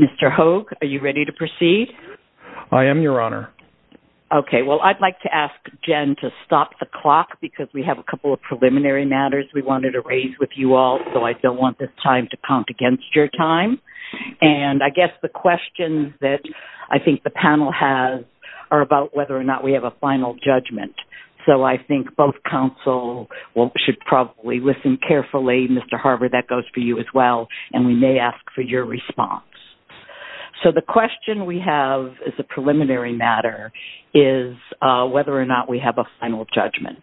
Mr. Hogue, are you ready to proceed? I am, Your Honor. Okay, well, I'd like to ask Jen to stop the clock because we have a couple of preliminary matters we wanted to raise with you all, so I don't want this time to count against your time. And I guess the questions that I think the panel has are about whether or not we have a final judgment. So I think both counsel should probably listen carefully. Mr. Harvard, that goes for you as well, and we may ask for your response. So the question we have as a preliminary matter is whether or not we have a final judgment.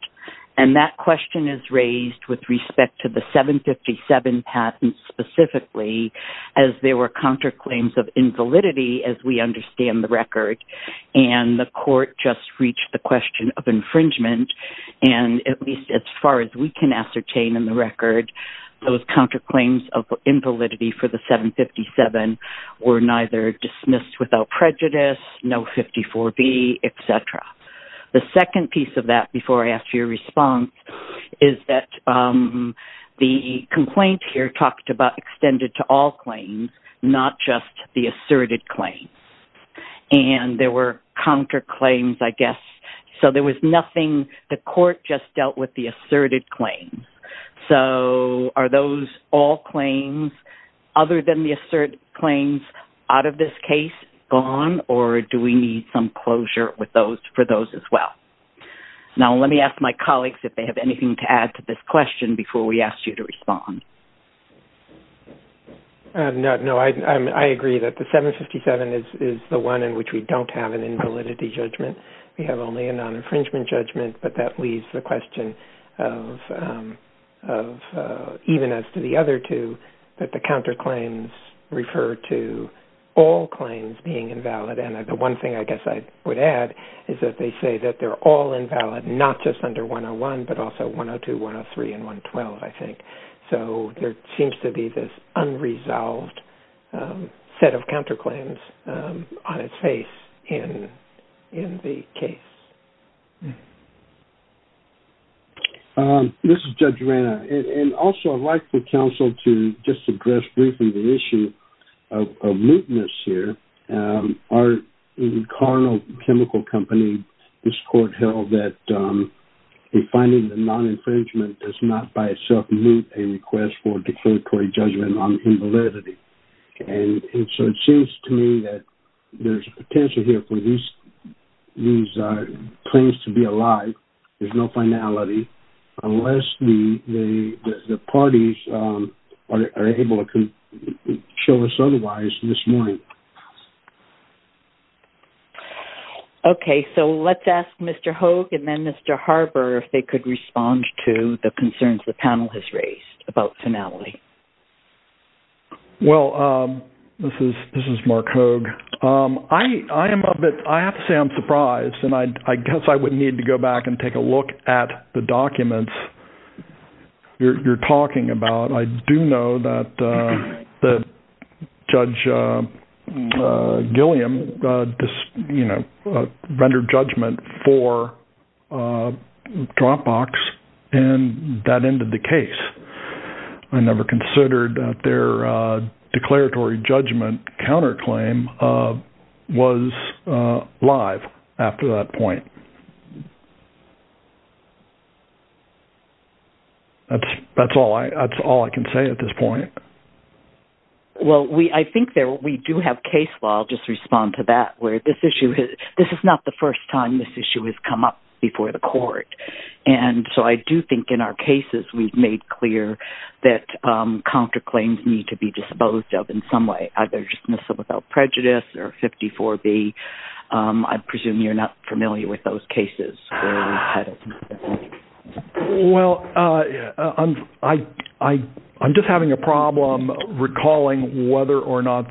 And that question is raised with respect to the 757 patent specifically, as there were counterclaims of invalidity, as we understand the record, and the court just reached the question of infringement. And at least as far as we can ascertain in the record, those counterclaims of invalidity for the 757 were neither dismissed without prejudice, no 54B, etc. The second piece of that, before I ask for your response, is that the complaint here talked about extended to all claims, not just the asserted claims. And there were counterclaims, I guess, so there was nothing the court just dealt with the asserted claims. So are those all claims other than the asserted claims out of this case gone, or do we need some closure for those as well? Now let me ask my colleagues if they have anything to add to this question before we ask you to respond. No, I agree that the 757 is the one in which we don't have an invalidity judgment. We have only a non-infringement judgment, but that leaves the question of, even as to the other two, that the counterclaims refer to all claims being invalid. And the one thing I guess I would add is that they say that they're all invalid, not just under 101, but also 102, 103, and 112, I think. So there seems to be this unresolved set of counterclaims on its face in the case. This is Judge Rana, and also I'd like for counsel to just address briefly the issue of mootness here. Our carnal chemical company, this court held that a finding of non-infringement does not by itself meet a request for declaratory judgment on invalidity. And so it seems to me that there's a potential here for these claims to be alive. There's no finality, unless the parties are able to show us otherwise this morning. Okay, so let's ask Mr. Hogue and then Mr. Harber if they could respond to the concerns the panel has raised about finality. Well, this is Mark Hogue. I have to say I'm surprised, and I guess I would need to go back and take a look at the documents you're talking about. I do know that Judge Gilliam rendered judgment for Dropbox in that end of the case. I never considered that their declaratory judgment counterclaim was live after that point. That's all I can say at this point. Well, I think we do have case law. I'll just respond to that. This is not the first time this issue has come up before the court, and so I do think in our cases we've made clear that counterclaims need to be disposed of in some way, either dismissal without prejudice or 54B. I presume you're not familiar with those cases. Well, I'm just having a problem recalling whether or not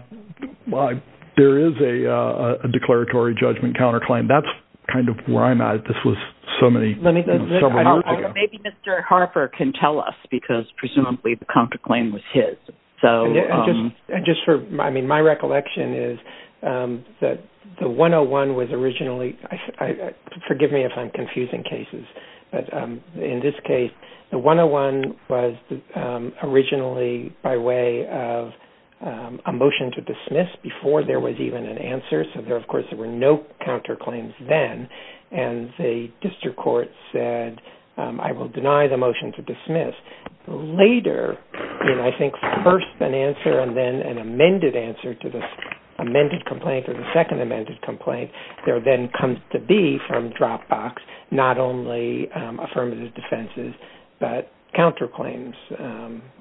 there is a declaratory judgment counterclaim. That's kind of where I'm at. This was several years ago. Maybe Mr. Harber can tell us, because presumably the counterclaim was his. My recollection is that the 101 was originally – forgive me if I'm confusing cases – but in this case, the 101 was originally by way of a motion to dismiss before there was even an answer. Of course, there were no counterclaims then, and the district court said, I will deny the motion to dismiss. Later, in I think first an answer and then an amended answer to the amended complaint or the second amended complaint, there then comes to be from Dropbox not only affirmative defenses but counterclaims,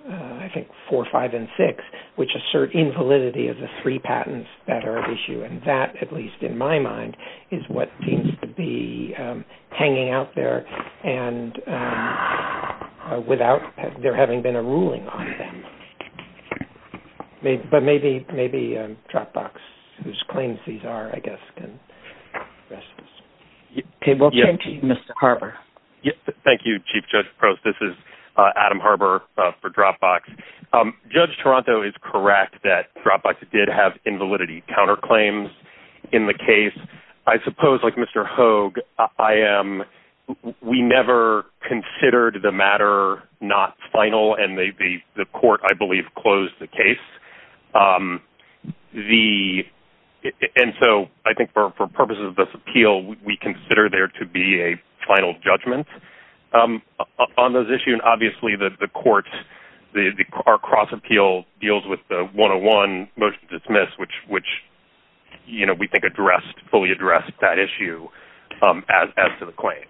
I think four, five, and six, which assert invalidity of the three patents that are at issue, and that, at least in my mind, is what seems to be hanging out there without there having been a ruling on them. But maybe Dropbox, whose claims these are, I guess, can address this. Okay, we'll turn to you, Mr. Harber. Thank you, Chief Judge Prost. This is Adam Harber for Dropbox. Judge Toronto is correct that Dropbox did have invalidity counterclaims in the case. I suppose, like Mr. Hogue, we never considered the matter not final, and the court, I believe, closed the case. And so I think for purposes of this appeal, we consider there to be a final judgment on those issues. And obviously the court, our cross-appeal deals with the 101 motion to dismiss, which we think fully addressed that issue as to the claims.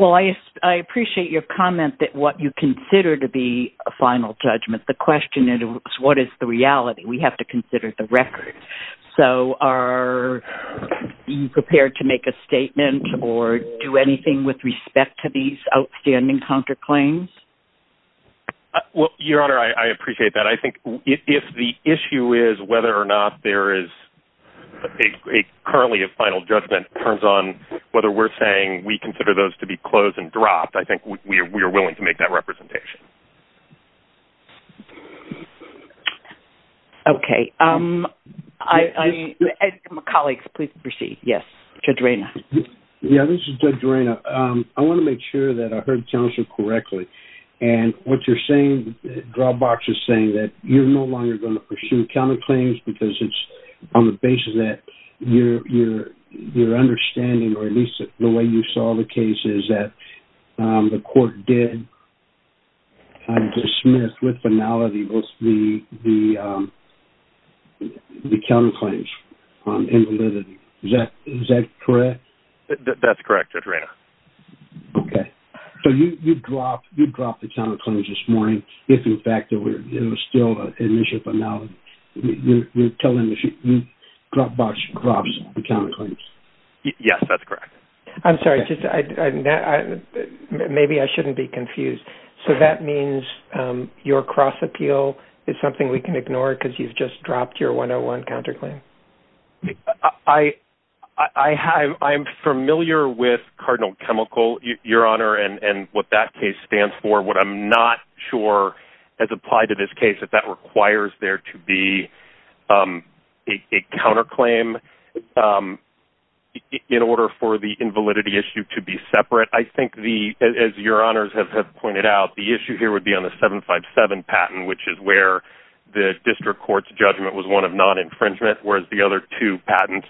Well, I appreciate your comment that what you consider to be a final judgment, the question is what is the reality? We have to consider the record. So are you prepared to make a statement or do anything with respect to these outstanding counterclaims? Well, Your Honor, I appreciate that. I think if the issue is whether or not there is currently a final judgment on whether we're saying we consider those to be closed and dropped, I think we are willing to make that representation. Okay. Colleagues, please proceed. Yes, Judge Reyna. Yeah, this is Judge Reyna. I want to make sure that I heard counsel correctly. And what you're saying, Dropbox is saying that you're no longer going to pursue counterclaims because it's on the basis that your understanding, or at least the way you saw the case, is that the court did dismiss with finality the counterclaims in validity. Is that correct? That's correct, Judge Reyna. Okay. So you dropped the counterclaims this morning if, in fact, it was still an initial finality. You're telling us Dropbox drops the counterclaims? Yes, that's correct. I'm sorry. Maybe I shouldn't be confused. So that means your cross-appeal is something we can ignore because you've just dropped your 101 counterclaim? I'm familiar with Cardinal Chemical, Your Honor, and what that case stands for. What I'm not sure has applied to this case is that requires there to be a counterclaim in order for the invalidity issue to be separate. I think, as Your Honors have pointed out, the issue here would be on the 757 patent, which is where the district court's judgment was one of non-infringement, whereas the other two patents,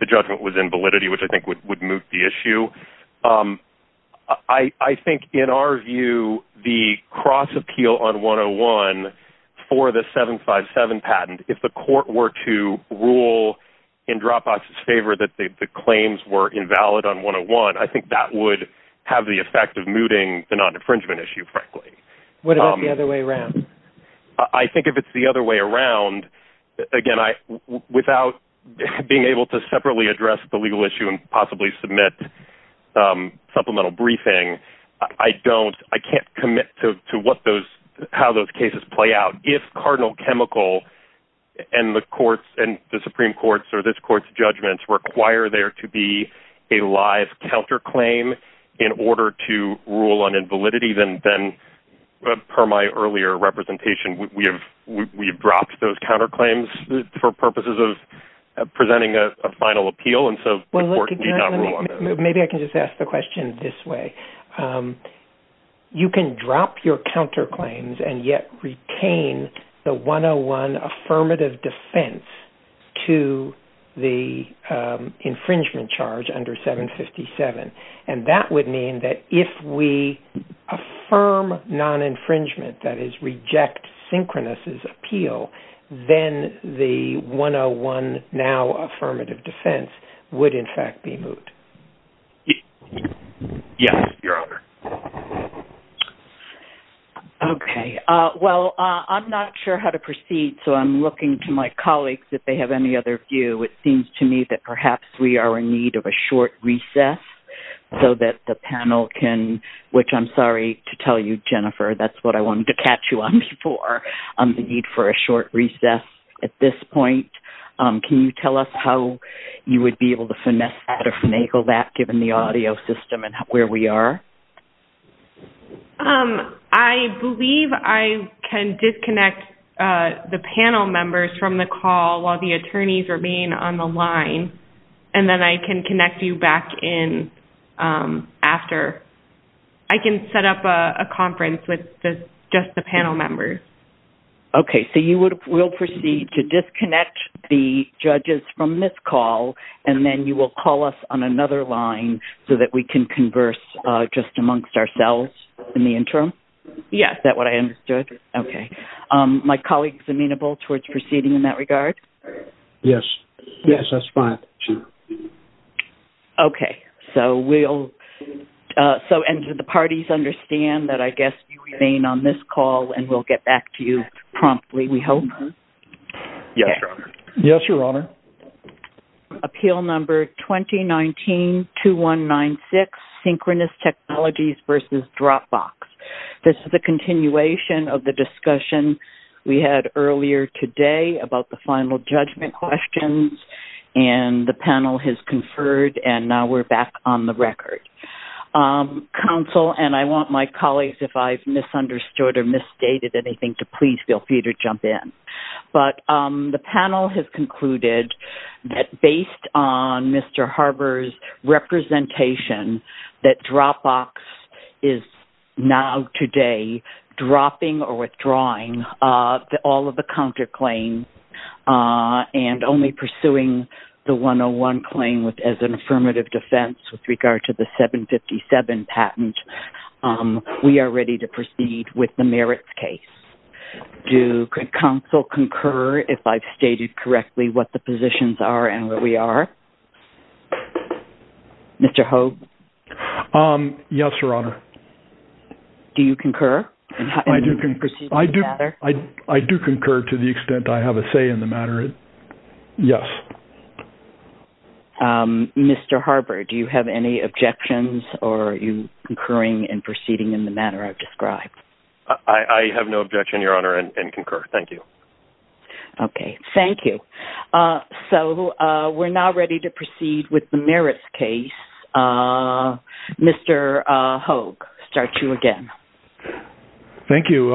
the judgment was invalidity, which I think would move the issue. I think, in our view, the cross-appeal on 101 for the 757 patent, if the court were to rule in Dropbox's favor that the claims were invalid on 101, I think that would have the effect of mooting the non-infringement issue, frankly. What about the other way around? I think if it's the other way around, again, without being able to separately address the legal issue and possibly submit supplemental briefing, I can't commit to how those cases play out. If Cardinal Chemical and the Supreme Court's or this court's judgments require there to be a live counterclaim in order to rule on invalidity, then, per my earlier representation, we've dropped those counterclaims for purposes of presenting a final appeal, and so the court need not rule on that. Maybe I can just ask the question this way. You can drop your counterclaims and yet retain the 101 affirmative defense to the infringement charge under 757, and that would mean that if we affirm non-infringement, that is, reject Synchronous' appeal, then the 101 now affirmative defense would, in fact, be moot. Yes, Your Honor. Okay. Well, I'm not sure how to proceed, so I'm looking to my colleagues if they have any other view. It seems to me that perhaps we are in need of a short recess so that the panel can, which I'm sorry to tell you, Jennifer, that's what I wanted to catch you on before, the need for a short recess at this point. Can you tell us how you would be able to finesse that or finagle that, given the audio system and where we are? I believe I can disconnect the panel members from the call while the attorneys remain on the line, and then I can connect you back in after. I can set up a conference with just the panel members. Okay. So you would proceed to disconnect the judges from this call, and then you will call us on another line so that we can converse just amongst ourselves in the interim? Yes. Is that what I understood? Okay. My colleagues amenable towards proceeding in that regard? Yes. Yes, that's fine. Okay. And do the parties understand that I guess you remain on this call, and we'll get back to you promptly, we hope? Yes, Your Honor. Yes, Your Honor. Appeal number 2019-2196, synchronous technologies versus Dropbox. This is a continuation of the discussion we had earlier today about the final judgment questions, and the panel has conferred, and now we're back on the record. Counsel, and I want my colleagues, if I've misunderstood or misstated anything, to please feel free to jump in. But the panel has concluded that based on Mr. Harber's representation, that Dropbox is now today dropping or withdrawing all of the counterclaims and only pursuing the 101 claim as an affirmative defense with regard to the 757 patent. We are ready to proceed with the merits case. Do counsel concur if I've stated correctly what the positions are and what we are? Mr. Hogue? Yes, Your Honor. Do you concur? I do concur to the extent I have a say in the matter. Yes. Mr. Harber, do you have any objections, or are you concurring and proceeding in the manner I've described? I have no objection, Your Honor, and concur. Thank you. Okay. Thank you. So we're now ready to proceed with the merits case. Mr. Hogue, start you again. Thank you.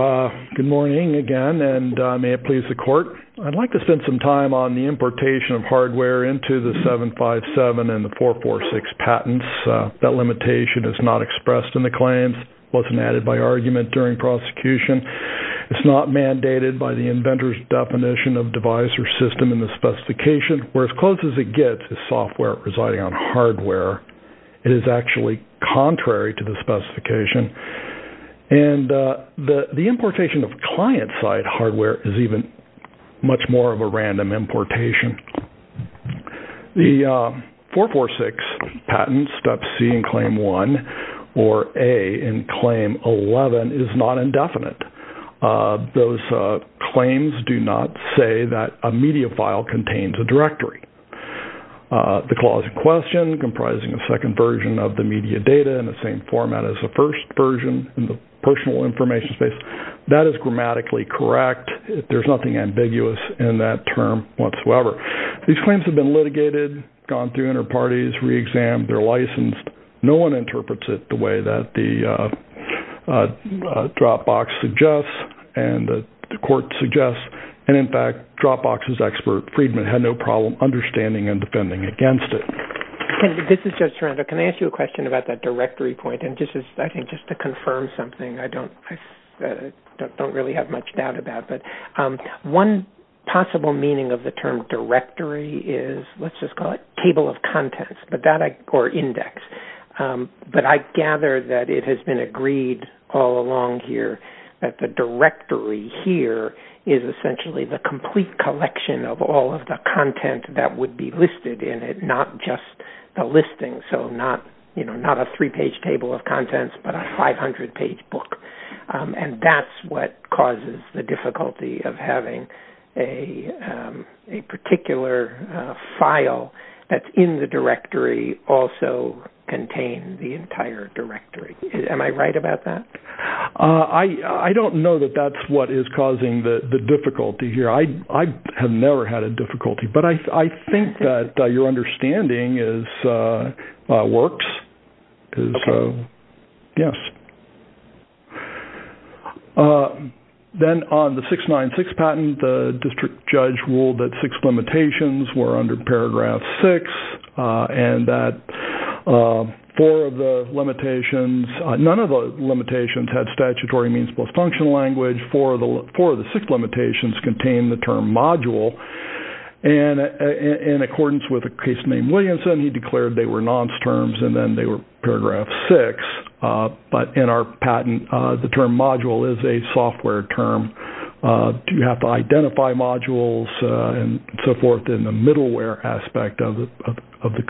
Good morning again, and may it please the Court. I'd like to spend some time on the importation of hardware into the 757 and the 446 patents. That limitation is not expressed in the claims. It wasn't added by argument during prosecution. It's not mandated by the inventor's definition of device or system in the specification. Where as close as it gets is software residing on hardware. It is actually contrary to the specification. And the importation of client-side hardware is even much more of a random importation. The 446 patent, Step C in Claim 1 or A in Claim 11, is not indefinite. Those claims do not say that a media file contains a directory. The clause in question comprising a second version of the media data in the same format as the first version in the personal information space, that is grammatically correct. There's nothing ambiguous in that term whatsoever. These claims have been litigated, gone through inter-parties, re-examined, they're licensed. No one interprets it the way that the Dropbox suggests and the court suggests. And in fact, Dropbox's expert, Friedman, had no problem understanding and defending against it. This is Judge Sorrento. Can I ask you a question about that directory point? And just to confirm something I don't really have much doubt about. One possible meaning of the term directory is, let's just call it table of contents or index. But I gather that it has been agreed all along here that the directory here is essentially the complete collection of all of the content that would be listed in it, not just the listing. So not a three-page table of contents, but a 500-page book. And that's what causes the difficulty of having a particular file that's in the directory also contain the entire directory. Am I right about that? I don't know that that's what is causing the difficulty here. I have never had a difficulty. But I think that your understanding works. Then on the 696 patent, the district judge ruled that six limitations were under paragraph six and that none of the limitations had statutory means plus functional language. Four of the six limitations contained the term module. And in accordance with a case named Williamson, he declared they were nonce terms and then they were paragraph six. But in our patent, the term module is a software term. You have to identify modules and so forth in the middleware aspect of the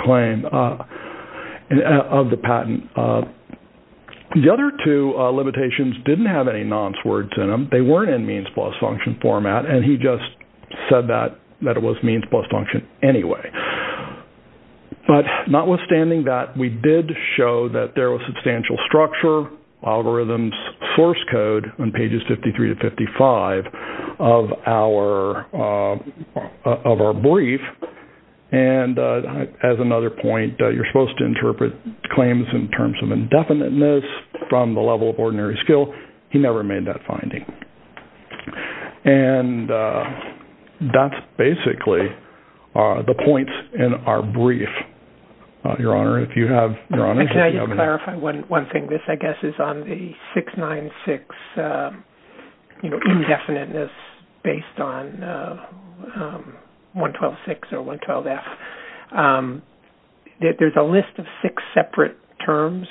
patent. The other two limitations didn't have any nonce words in them. They weren't in means plus function format. And he just said that it was means plus function anyway. But notwithstanding that, we did show that there was substantial structure, algorithms, source code on pages 53 to 55 of our brief. And as another point, you're supposed to interpret claims in terms of indefiniteness from the level of ordinary skill. He never made that finding. And that's basically the points in our brief, Your Honor. Can I just clarify one thing? This, I guess, is on the 696 indefiniteness based on 112-6 or 112-F. There's a list of six separate terms.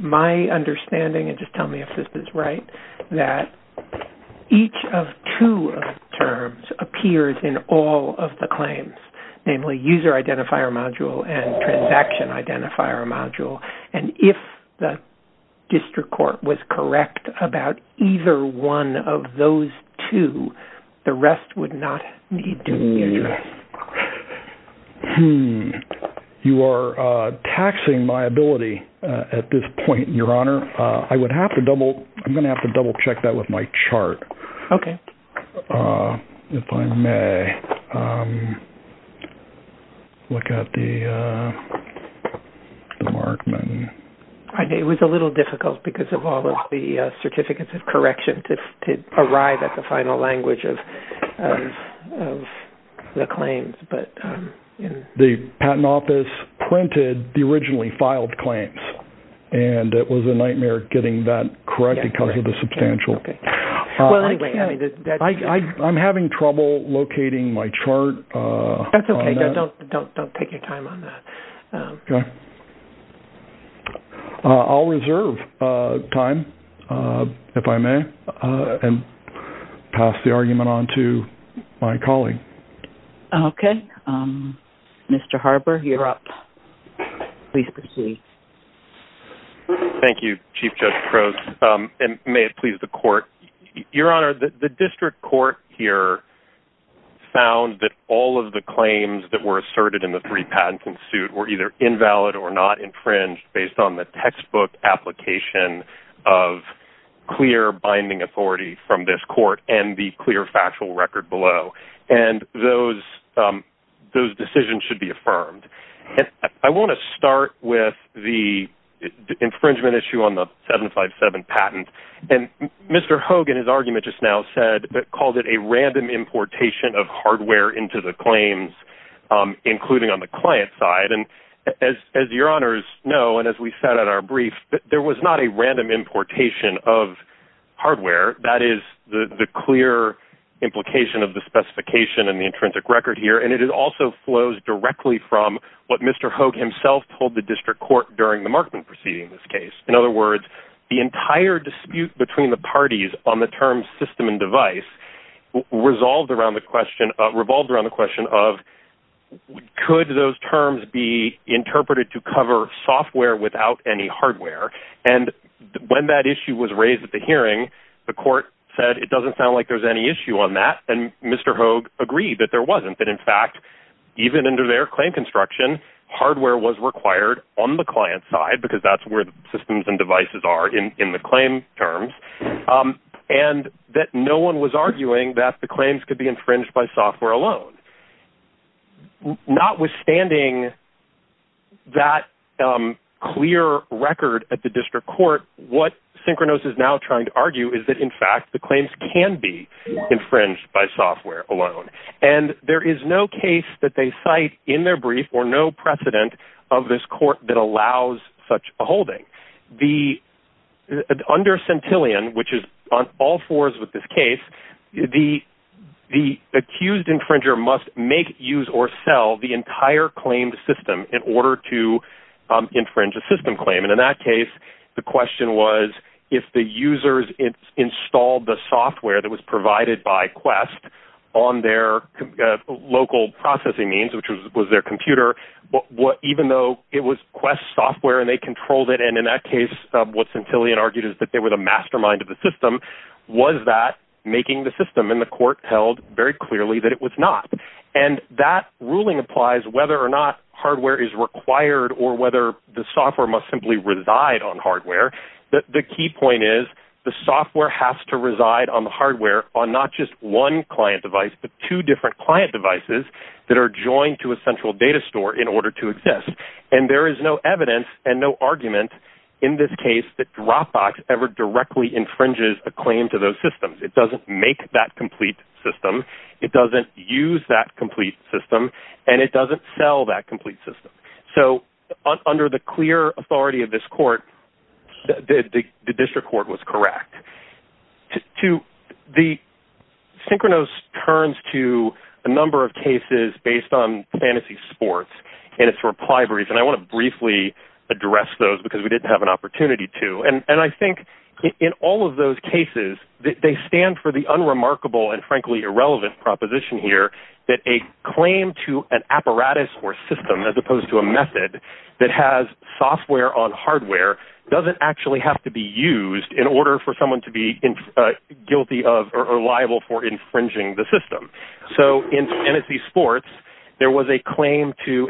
My understanding, and just tell me if this is right, that each of two terms appears in all of the claims, namely user identifier module and transaction identifier module. And if the district court was correct about either one of those two, the rest would not need to be addressed. You are taxing my ability at this point, Your Honor. I'm going to have to double check that with my chart, if I may. Look at the markman. It was a little difficult because of all of the certificates of correction to arrive at the final language of the claims. The patent office printed the originally filed claims, and it was a nightmare getting that correct because of the substantial. Well, anyway. I'm having trouble locating my chart. That's okay. Don't take your time on that. Okay. I'll reserve time, if I may, and pass the argument on to my colleague. Okay. Mr. Harber, you're up. Please proceed. Thank you, Chief Judge Crowes. And may it please the court, Your Honor, the district court here found that all of the claims that were asserted in the three-patent suit were either invalid or not infringed based on the textbook application of clear binding authority from this court and the clear factual record below. And those decisions should be affirmed. I want to start with the infringement issue on the 757 patent. And Mr. Hogan, his argument just now, called it a random importation of hardware into the claims, including on the client side. And as Your Honors know, and as we said at our brief, there was not a random importation of hardware. That is the clear implication of the specification and the intrinsic record here. And it also flows directly from what Mr. Hogue himself told the district court during the Markman proceeding, this case. In other words, the entire dispute between the parties on the term system and device resolved around the question, revolved around the question of, could those terms be interpreted to cover software without any hardware? And when that issue was raised at the hearing, the court said it doesn't sound like there's any issue on that. And Mr. Hogue agreed that there wasn't, that in fact, even under their claim construction, hardware was required on the client side because that's where the systems and devices are in the claim terms. And that no one was arguing that the claims could be infringed by software alone. Not withstanding that clear record at the district court, what Synchronos is now trying to argue is that in fact, the claims can be infringed by software alone. And there is no case that they cite in their brief or no precedent of this court that allows such a holding the under Centillion, which is on all fours with this case, the, the accused infringer must make use or sell the entire claimed system in order to infringe a system claim. And in that case, the question was if the users installed the software that was provided by quest on their local processing means, which was, was their computer. What, what, even though it was quest software and they controlled it. And in that case of what's until he had argued is that they were the mastermind of the system. Was that making the system in the court held very clearly that it was not. And that ruling applies whether or not hardware is required or whether the software must simply reside on hardware. The key point is the software has to reside on the hardware on not just one client device, but two different client devices that are joined to a central data store in order to exist. And there is no evidence and no argument in this case that Dropbox ever directly infringes a claim to those systems. It doesn't make that complete system. It doesn't use that complete system and it doesn't sell that complete system. So under the clear authority of this court, the district court was correct to the synchronous turns to a number of cases based on fantasy sports and it's reply brief. And I want to briefly address those because we didn't have an opportunity to, and I think in all of those cases, they stand for the unremarkable and frankly irrelevant proposition here that a claim to an apparatus or system, as opposed to a method that has software on hardware doesn't actually have to be used in order for someone to be guilty of, or liable for infringing the system. So in fantasy sports, there was a claim to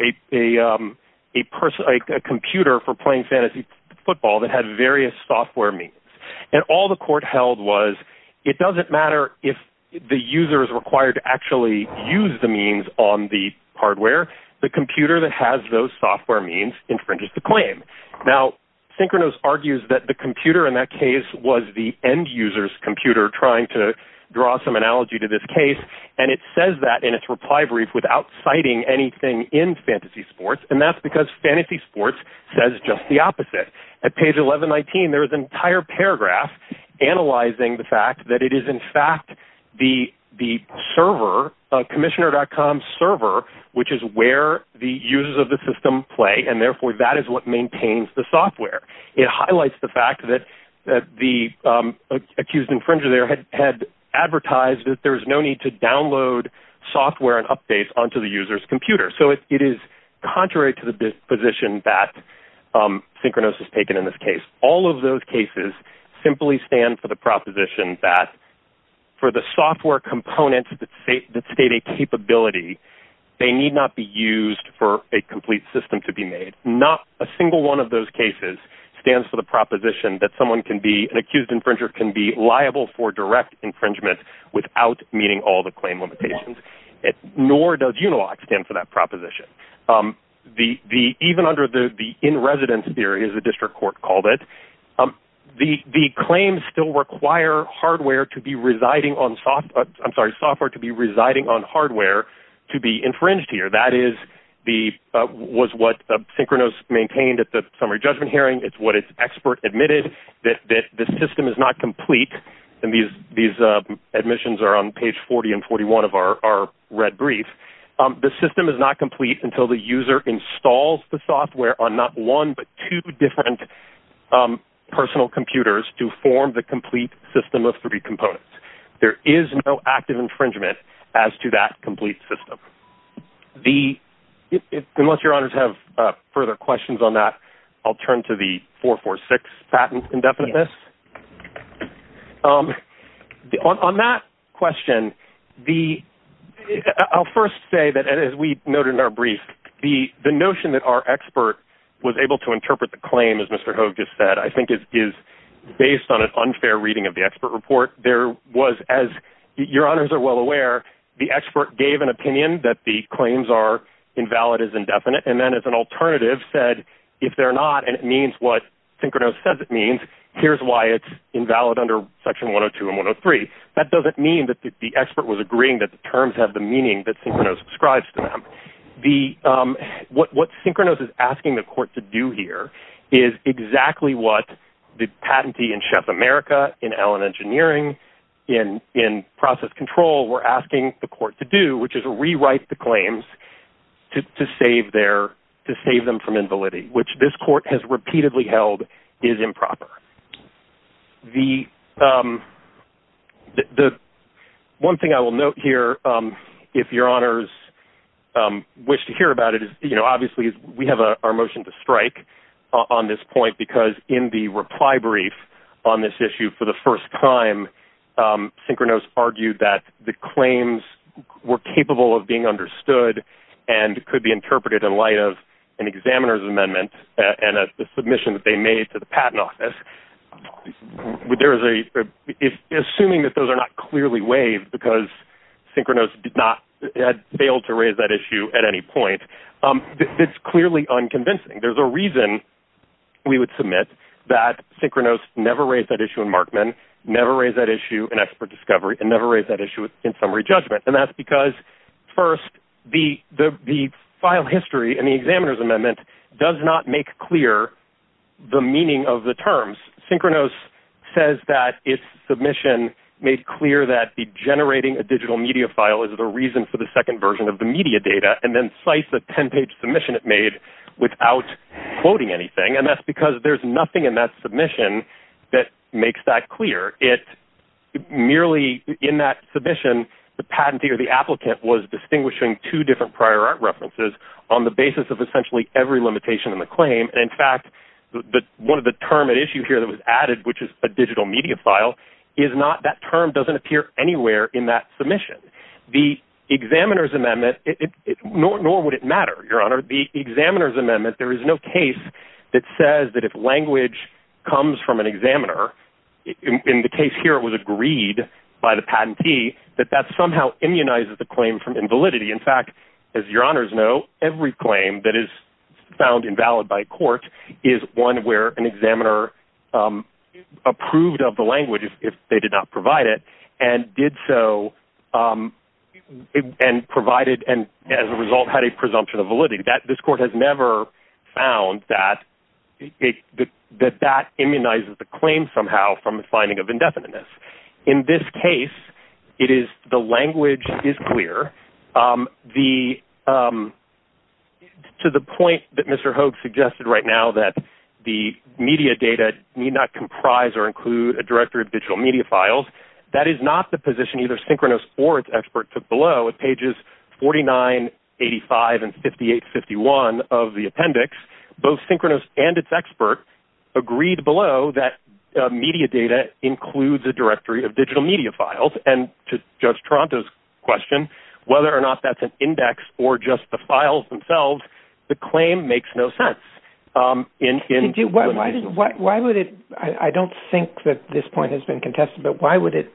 a person, like a computer for playing fantasy football that had various software means. And all the court held was it doesn't matter if the user is required to actually use the means on the hardware, the computer that has those software means infringes the claim. Now synchronous argues that the computer in that case was the end users computer trying to draw some analogy to this case. And it says that in its reply brief without citing anything in fantasy sports. And that's because fantasy sports says just the opposite at page 11, 19, there was an entire paragraph analyzing the fact that it is in fact the, the server commissioner.com server, which is where the users of the system play. And therefore that is what maintains the software. It highlights the fact that, that the accused infringer there had advertised that there was no need to download software and updates onto the user's computer. So it is contrary to the position that synchronous has taken in this case, all of those cases simply stand for the proposition that for the software components that state, that state a capability, they need not be used for a complete system to be made. Not a single one of those cases stands for the proposition that someone can be an accused infringer, can be liable for direct infringement without meeting all the claim limitations. It nor does Unilock stand for that proposition. The, the, even under the, the in-residence theory is a district court called it. The, the claims still require hardware to be residing on soft, I'm sorry, software to be residing on hardware to be infringed here. That is the, was what synchronous maintained at the summary judgment hearing. It's what it's expert admitted that, that the system is not complete. And these, these admissions are on page 40 and 41 of our, our red brief. The system is not complete until the user installs the software on not one, but two different personal computers to form the complete system of three components. There is no active infringement as to that complete system. The, unless your honors have further questions on that, I'll turn to the four, four, six patent indefinite. Yes. On that question, the, I'll first say that as we noted in our brief, the, the notion that our expert was able to interpret the claim as Mr. Hogue just said, I think it is based on an unfair reading of the expert report. There was, as your honors are well aware, the expert gave an opinion that the claims are invalid as indefinite. And then as an alternative said, if they're not, and it means what Synchronos says it means, here's why it's invalid under section one or two and one or three. That doesn't mean that the expert was agreeing that the terms have the meaning that Synchronos describes to them. The, um, what, what Synchronos is asking the court to do here is exactly what the patentee in Chef America in Allen engineering in, in process control, we're asking the court to do, which is rewrite the claims to, to save their, to save them from invalidity, which this court has repeatedly held is improper. The, the one thing I will note here, um, if your honors, um, wish to hear about it is, you know, obviously we have our motion to strike on this point because in the reply brief on this issue for the first time, um, Synchronos argued that the claims were capable of being understood and could be interpreted in light of an examiner's amendment and a submission that they made to the patent office. There is a, assuming that those are not clearly waived because Synchronos did not fail to raise that issue at any point. Um, it's clearly unconvincing. There's a reason we would submit that Synchronos never raised that issue in Markman, never raised that issue in expert discovery, and never raised that issue in summary judgment. And that's because first the, the file history and the examiner's amendment does not make clear the meaning of the terms. Synchronos says that it's submission made clear that the generating a digital media file is the reason for the second version of the media data and then slice the 10 page submission it made without quoting anything. And that's because there's nothing in that submission that makes that clear. It merely in that submission, the patentee or the applicant was distinguishing two different prior art references on the basis of essentially every limitation in the claim. In fact, the, one of the term at issue here that was added, which is a digital media file is not, that term doesn't appear anywhere in that submission. The examiner's amendment, nor would it matter, Your Honor, the examiner's amendment, there is no case that says that if language comes from an examiner, in the case here, it was agreed by the patentee that that somehow immunizes the claim from invalidity. In fact, as Your Honor's know, every claim that is found invalid by court is one where an examiner approved of the language if they did not provide it and did so and provided. And as a result had a presumption of validity that this court has ever found that it, that, that that immunizes the claim somehow from the finding of indefiniteness. In this case, it is the language is clear. The to the point that Mr. Hogue suggested right now that the media data need not comprise or include a director of digital media files. That is not the position either synchronous or it's expert to blow at pages 49, 85 and 58, 51 of the appendix, both synchronous and it's expert agreed below that media data includes a directory of digital media files. And to judge Toronto's question, whether or not that's an index or just the files themselves, the claim makes no sense. Why would it, I don't think that this point has been contested, but why would it,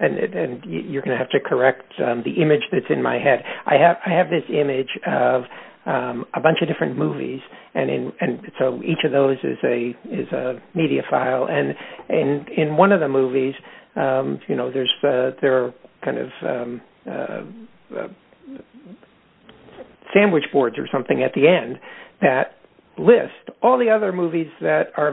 and you're going to have to correct the image that's in my head. I have, I have this image of a bunch of different movies and in, and so each of those is a, is a media file. And, and in one of the movies, you know, there's a, there are kind of sandwich boards or something at the end that list all the other movies that are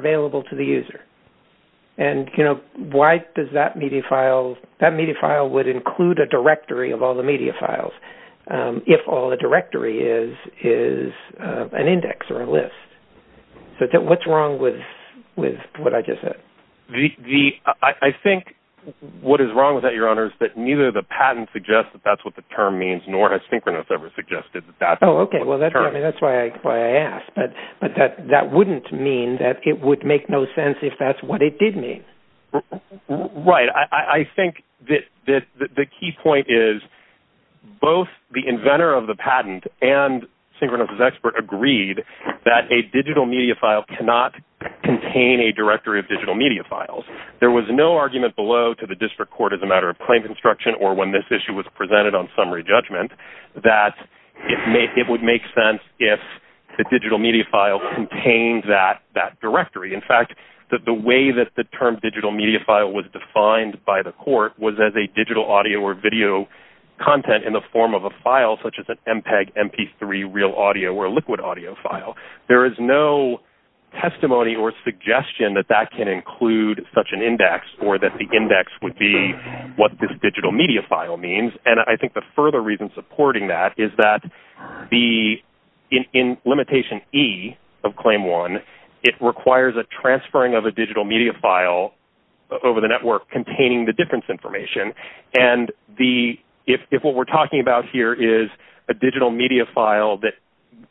that media file would include a directory of all the media files. Um, if all the directory is, is, uh, an index or a list. So what's wrong with, with what I just said, the, the, I, I think what is wrong with that, your honors, that neither the patent suggests that that's what the term means, nor has synchronous ever suggested that. Oh, okay. Well, that's, I mean, that's why I asked, but, but that, that wouldn't mean that it would make no sense if that's what it did mean. Right. I think that, that, that the key point is both the inventor of the patent and synchronous is expert agreed that a digital media file cannot contain a directory of digital media files. There was no argument below to the district court as a matter of claim construction or when this issue was presented on summary judgment, that it may, that directory. In fact, that the way that the term digital media file was defined by the court was as a digital audio or video content in the form of a file, such as an MPEG MP3 real audio or liquid audio file. There is no testimony or suggestion that that can include such an index or that the index would be what this digital media file means. And I think the further reason supporting that is that the in, in limitation E of claim one, it requires a transferring of a digital media file over the network containing the difference information. And the, if what we're talking about here is a digital media file that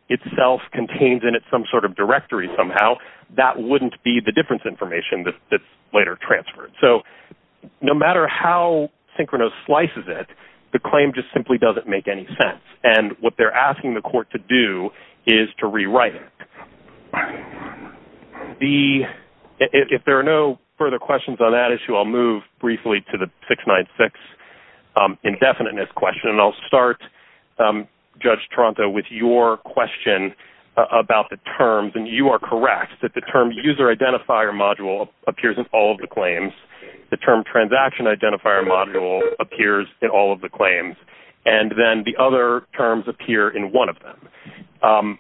itself contains in it, some sort of directory somehow, that wouldn't be the difference information that's later transferred. So no matter how synchronous slices it, the claim just simply doesn't make any sense. And what they're asking the court to do is to rewrite it. The, if there are no further questions on that issue, I'll move briefly to the six, nine, six indefiniteness question. And I'll start judge Toronto with your question about the terms. And you are correct that the term user identifier module appears in all of the claims. The term transaction identifier module appears in all of the claims. And then the other terms appear in one of them.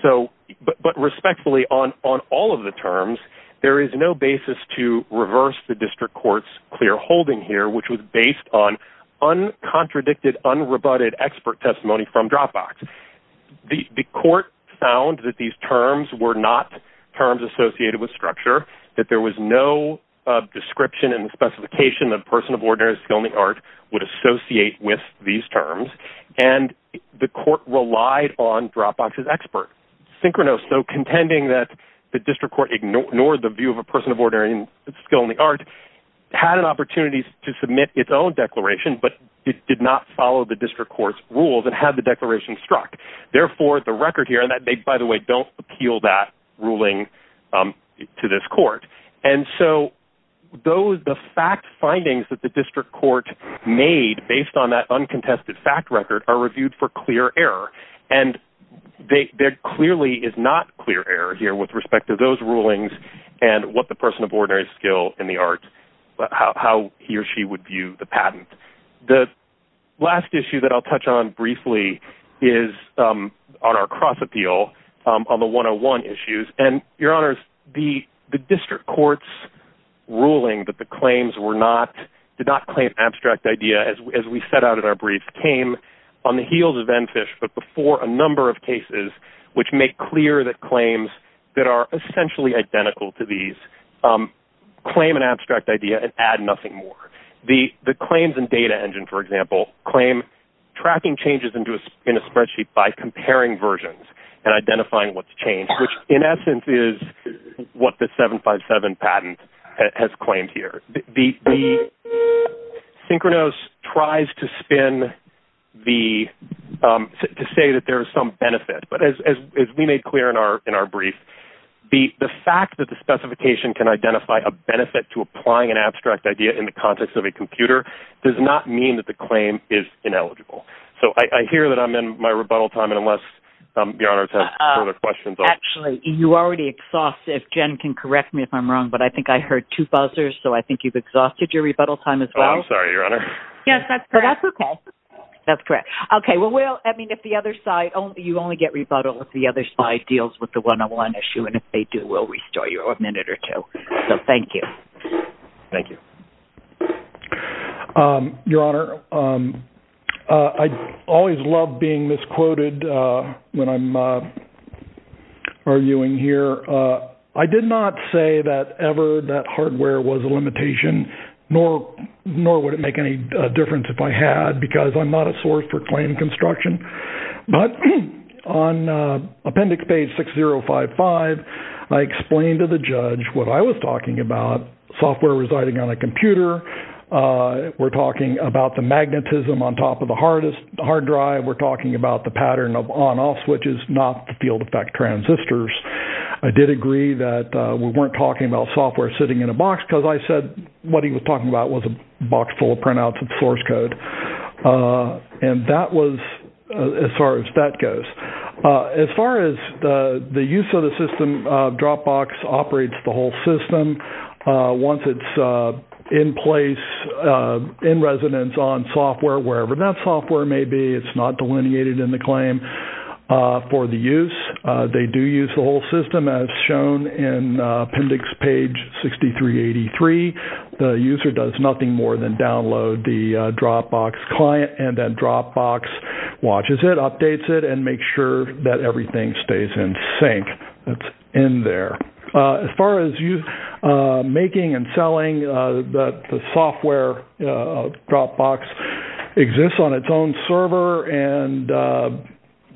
So, but, but respectfully on, on all of the terms, there is no basis to reverse the district court's clear holding here, which was based on uncontradicted, unrebutted expert testimony from Dropbox. The court found that these terms were not terms associated with structure, that there was no description and specification of personal borders, filming art would associate with these terms. And the court relied on Dropbox's expert synchronous. So contending that the district court ignored the view of a person of order and skill in the art had an opportunity to submit its own declaration, but it did not follow the district court's rules and have the declaration struck. Therefore the record here, and that they, by the way, don't appeal that ruling to this court. And so those, the fact findings that the district court made based on that uncontested fact record are reviewed for clear error. And they they're clearly is not clear error here with respect to those rulings and what the person of order is skill in the art, but how he or she would view the patent. The last issue that I'll touch on briefly is on our cross appeal on the one-on-one issues and your honors, the district court's ruling that the claims were not, did not claim abstract idea as we, as we set out at our brief came on the heels of then fish, but before a number of cases, which make clear that claims that are essentially identical to these claim an abstract idea and add nothing more. The claims and data engine, for example, claim tracking changes into in a spreadsheet by comparing versions and identifying what's changed, which in essence is what the seven five seven patent has claimed here. The synchronous tries to spin the to say that there's some benefit, but as we made clear in our, in our brief, the fact that the specification can identify a benefit to applying an abstract idea in the context of a computer does not mean that the claim is ineligible. So I hear that I'm in my rebuttal time. And unless I'm beyond our further questions, you already exhaustive Jen can correct me if I'm wrong, but I think I heard two buzzers. So I think you've exhausted your rebuttal time as well. Yes, that's correct. That's correct. Okay. Well, we'll, I mean, if the other side, you only get rebuttal with the other side deals with the one-on-one issue. And if they do, we'll restore you a minute or two. So thank you. Thank you. Your honor. I always love being misquoted when I'm arguing here. I did not say that ever that hardware was a limitation, nor would it make any difference if I had, because I'm not a source for claim construction, but on appendix page 6055, I explained to the judge what I was talking about software residing on a computer. We're talking about the magnetism on top of the hardest hard drive. We're talking about the pattern of on off switches, not the field effect transistors. I did agree that we weren't talking about software sitting in a box because I said, what he was talking about was a box full of printouts of source code. And that was as far as that goes, as far as the use of the system, Dropbox operates the whole system. Once it's in place in residence on software, wherever that software may be, it's not delineated in the claim for the use. They do use the whole system as shown in appendix page 6383. The user does nothing more than download the Dropbox client and then Dropbox watches it, updates it and make sure that everything stays in sync. That's in there. As far as you making and selling the software, Dropbox exists on its own server and,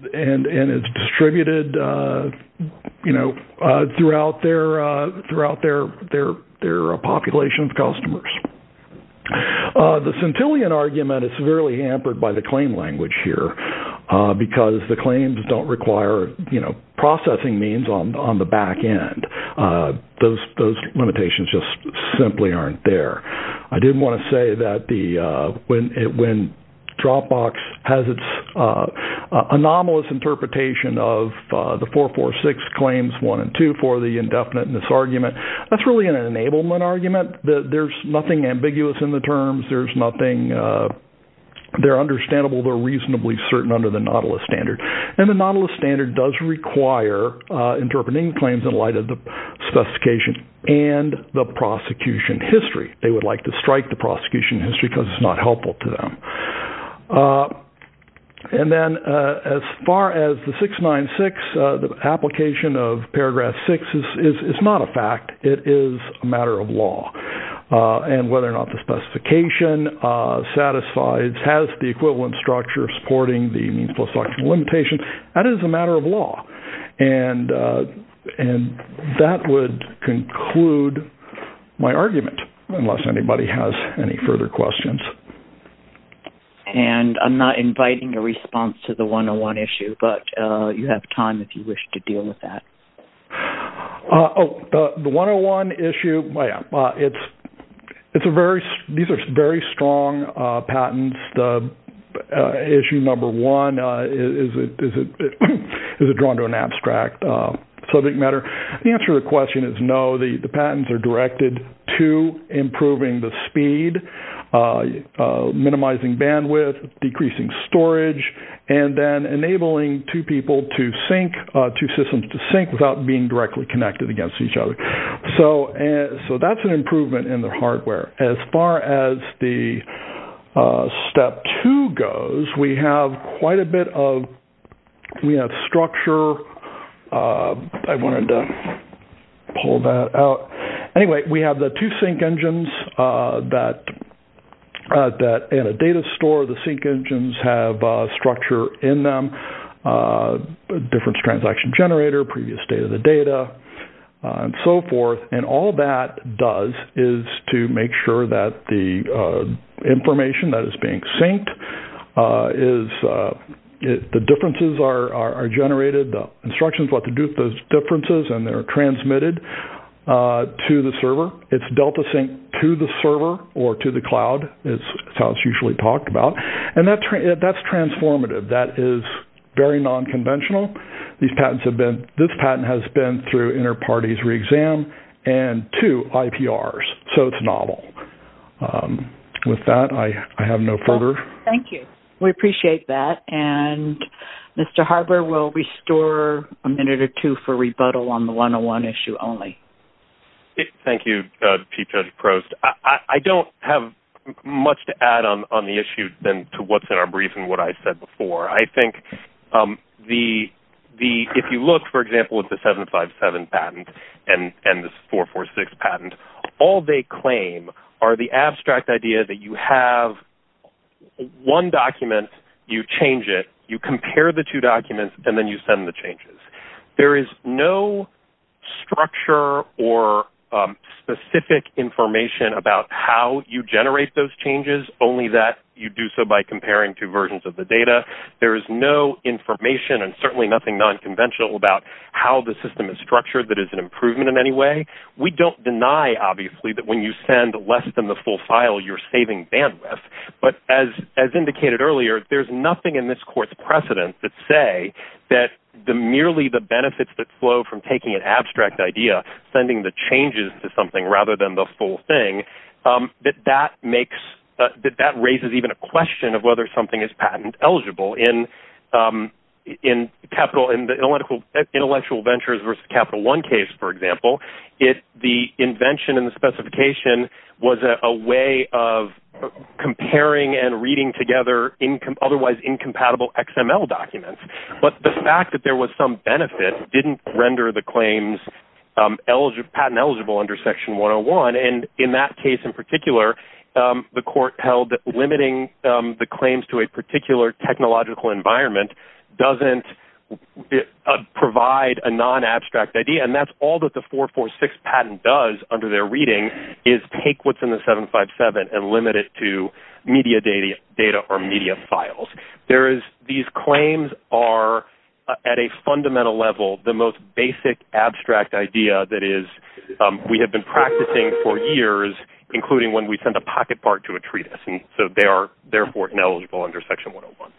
and it's distributed, you know, throughout their population of customers. The Centillion argument is severely hampered by the claim language here because the claims don't require, you know, processing means on the back end. Those limitations just simply aren't there. I didn't want to say that the, when it, when Dropbox has its anomalous interpretation of the 446 claims one and two for the indefinite misargument, that's really an enablement argument. There's nothing ambiguous in the terms. There's nothing, they're understandable. They're reasonably certain under the Nautilus standard. And the Nautilus standard does require interpreting claims in light of the specification and the prosecution history. They would like to strike the prosecution history because it's not helpful to them. And then as far as the 696, the application of paragraph six is, is not a fact. It is a matter of law. And whether or not the specification satisfies, has the equivalent structure supporting the means post-factual limitation, that is a matter of law. And, and that would conclude my argument. Unless anybody has any further questions. And I'm not inviting a response to the one-on-one issue, but you have time if you wish to deal with that. Oh, the one-on-one issue. Oh yeah. It's, it's a very, these are very strong patents. The issue number one, is it, is it, is it drawn to an abstract subject matter? The answer to the question is no. So the, the patents are directed to improving the speed, minimizing bandwidth, decreasing storage, and then enabling two people to sync, two systems to sync without being directly connected against each other. So, so that's an improvement in the hardware. As far as the step two goes, we have quite a bit of, we have structure. I wanted to pull that out. Anyway, we have the two sync engines that, that in a data store, the sync engines have a structure in them. Difference transaction generator, previous state of the data, and so forth. And all that does is to make sure that the information that is being synced, is, the differences are, are generated, the instructions, what to do with those differences, and they're transmitted to the server. It's Delta sync to the server or to the cloud. It's how it's usually talked about. And that's transformative. That is very non-conventional. These patents have been, this patent has been through inter-parties re-exam and two IPRs. So it's novel. With that, I have no further. Thank you. We appreciate that. And Mr. Harber will restore a minute or two for rebuttal on the one-on-one issue only. Thank you, Chief Judge Prost. I don't have much to add on, on the issue than to what's in our brief and what I said before. I think the, the, if you look, for example, with the 757 patent and, and the 446 patent, all they claim are the abstract idea that you have one document. You change it. You compare the two documents and then you send the changes. There is no structure or specific information about how you generate those changes, only that you do so by comparing two versions of the data. There is no information and certainly nothing non-conventional about how the system is structured that is an improvement in any way. We don't deny, obviously, that when you send less than the full file, you're saving bandwidth. But as, as indicated earlier, there's nothing in this court's precedent that say that the, merely the benefits that flow from taking an abstract idea, sending the changes to something rather than the full thing, that that makes, that that raises even a question of whether something is patent eligible in, in capital, in the intellectual, intellectual ventures versus Capital One case. For example, it, the invention and the specification was a way of, comparing and reading together income, otherwise incompatible XML documents. But the fact that there was some benefit didn't render the claims eligible, patent eligible under Section 101. And in that case in particular, the court held that limiting the claims to a particular technological environment doesn't provide a non-abstract idea. And that's all that the four, four, six patent does under their reading is take what's in the seven, five, seven and limit it to media data, data or media files. There is, these claims are at a fundamental level, the most basic abstract idea that is we have been practicing for years, including when we send a pocket part to a treatise. And so they are therefore knowledgeable under Section 101.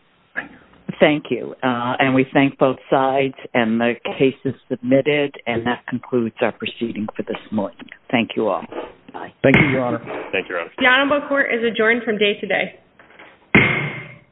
Thank you. And we thank both sides and the cases submitted. And that concludes our proceeding for this morning. Thank you all. Thank you. Your Honor. Thank you. Honorable court is adjourned from day to day.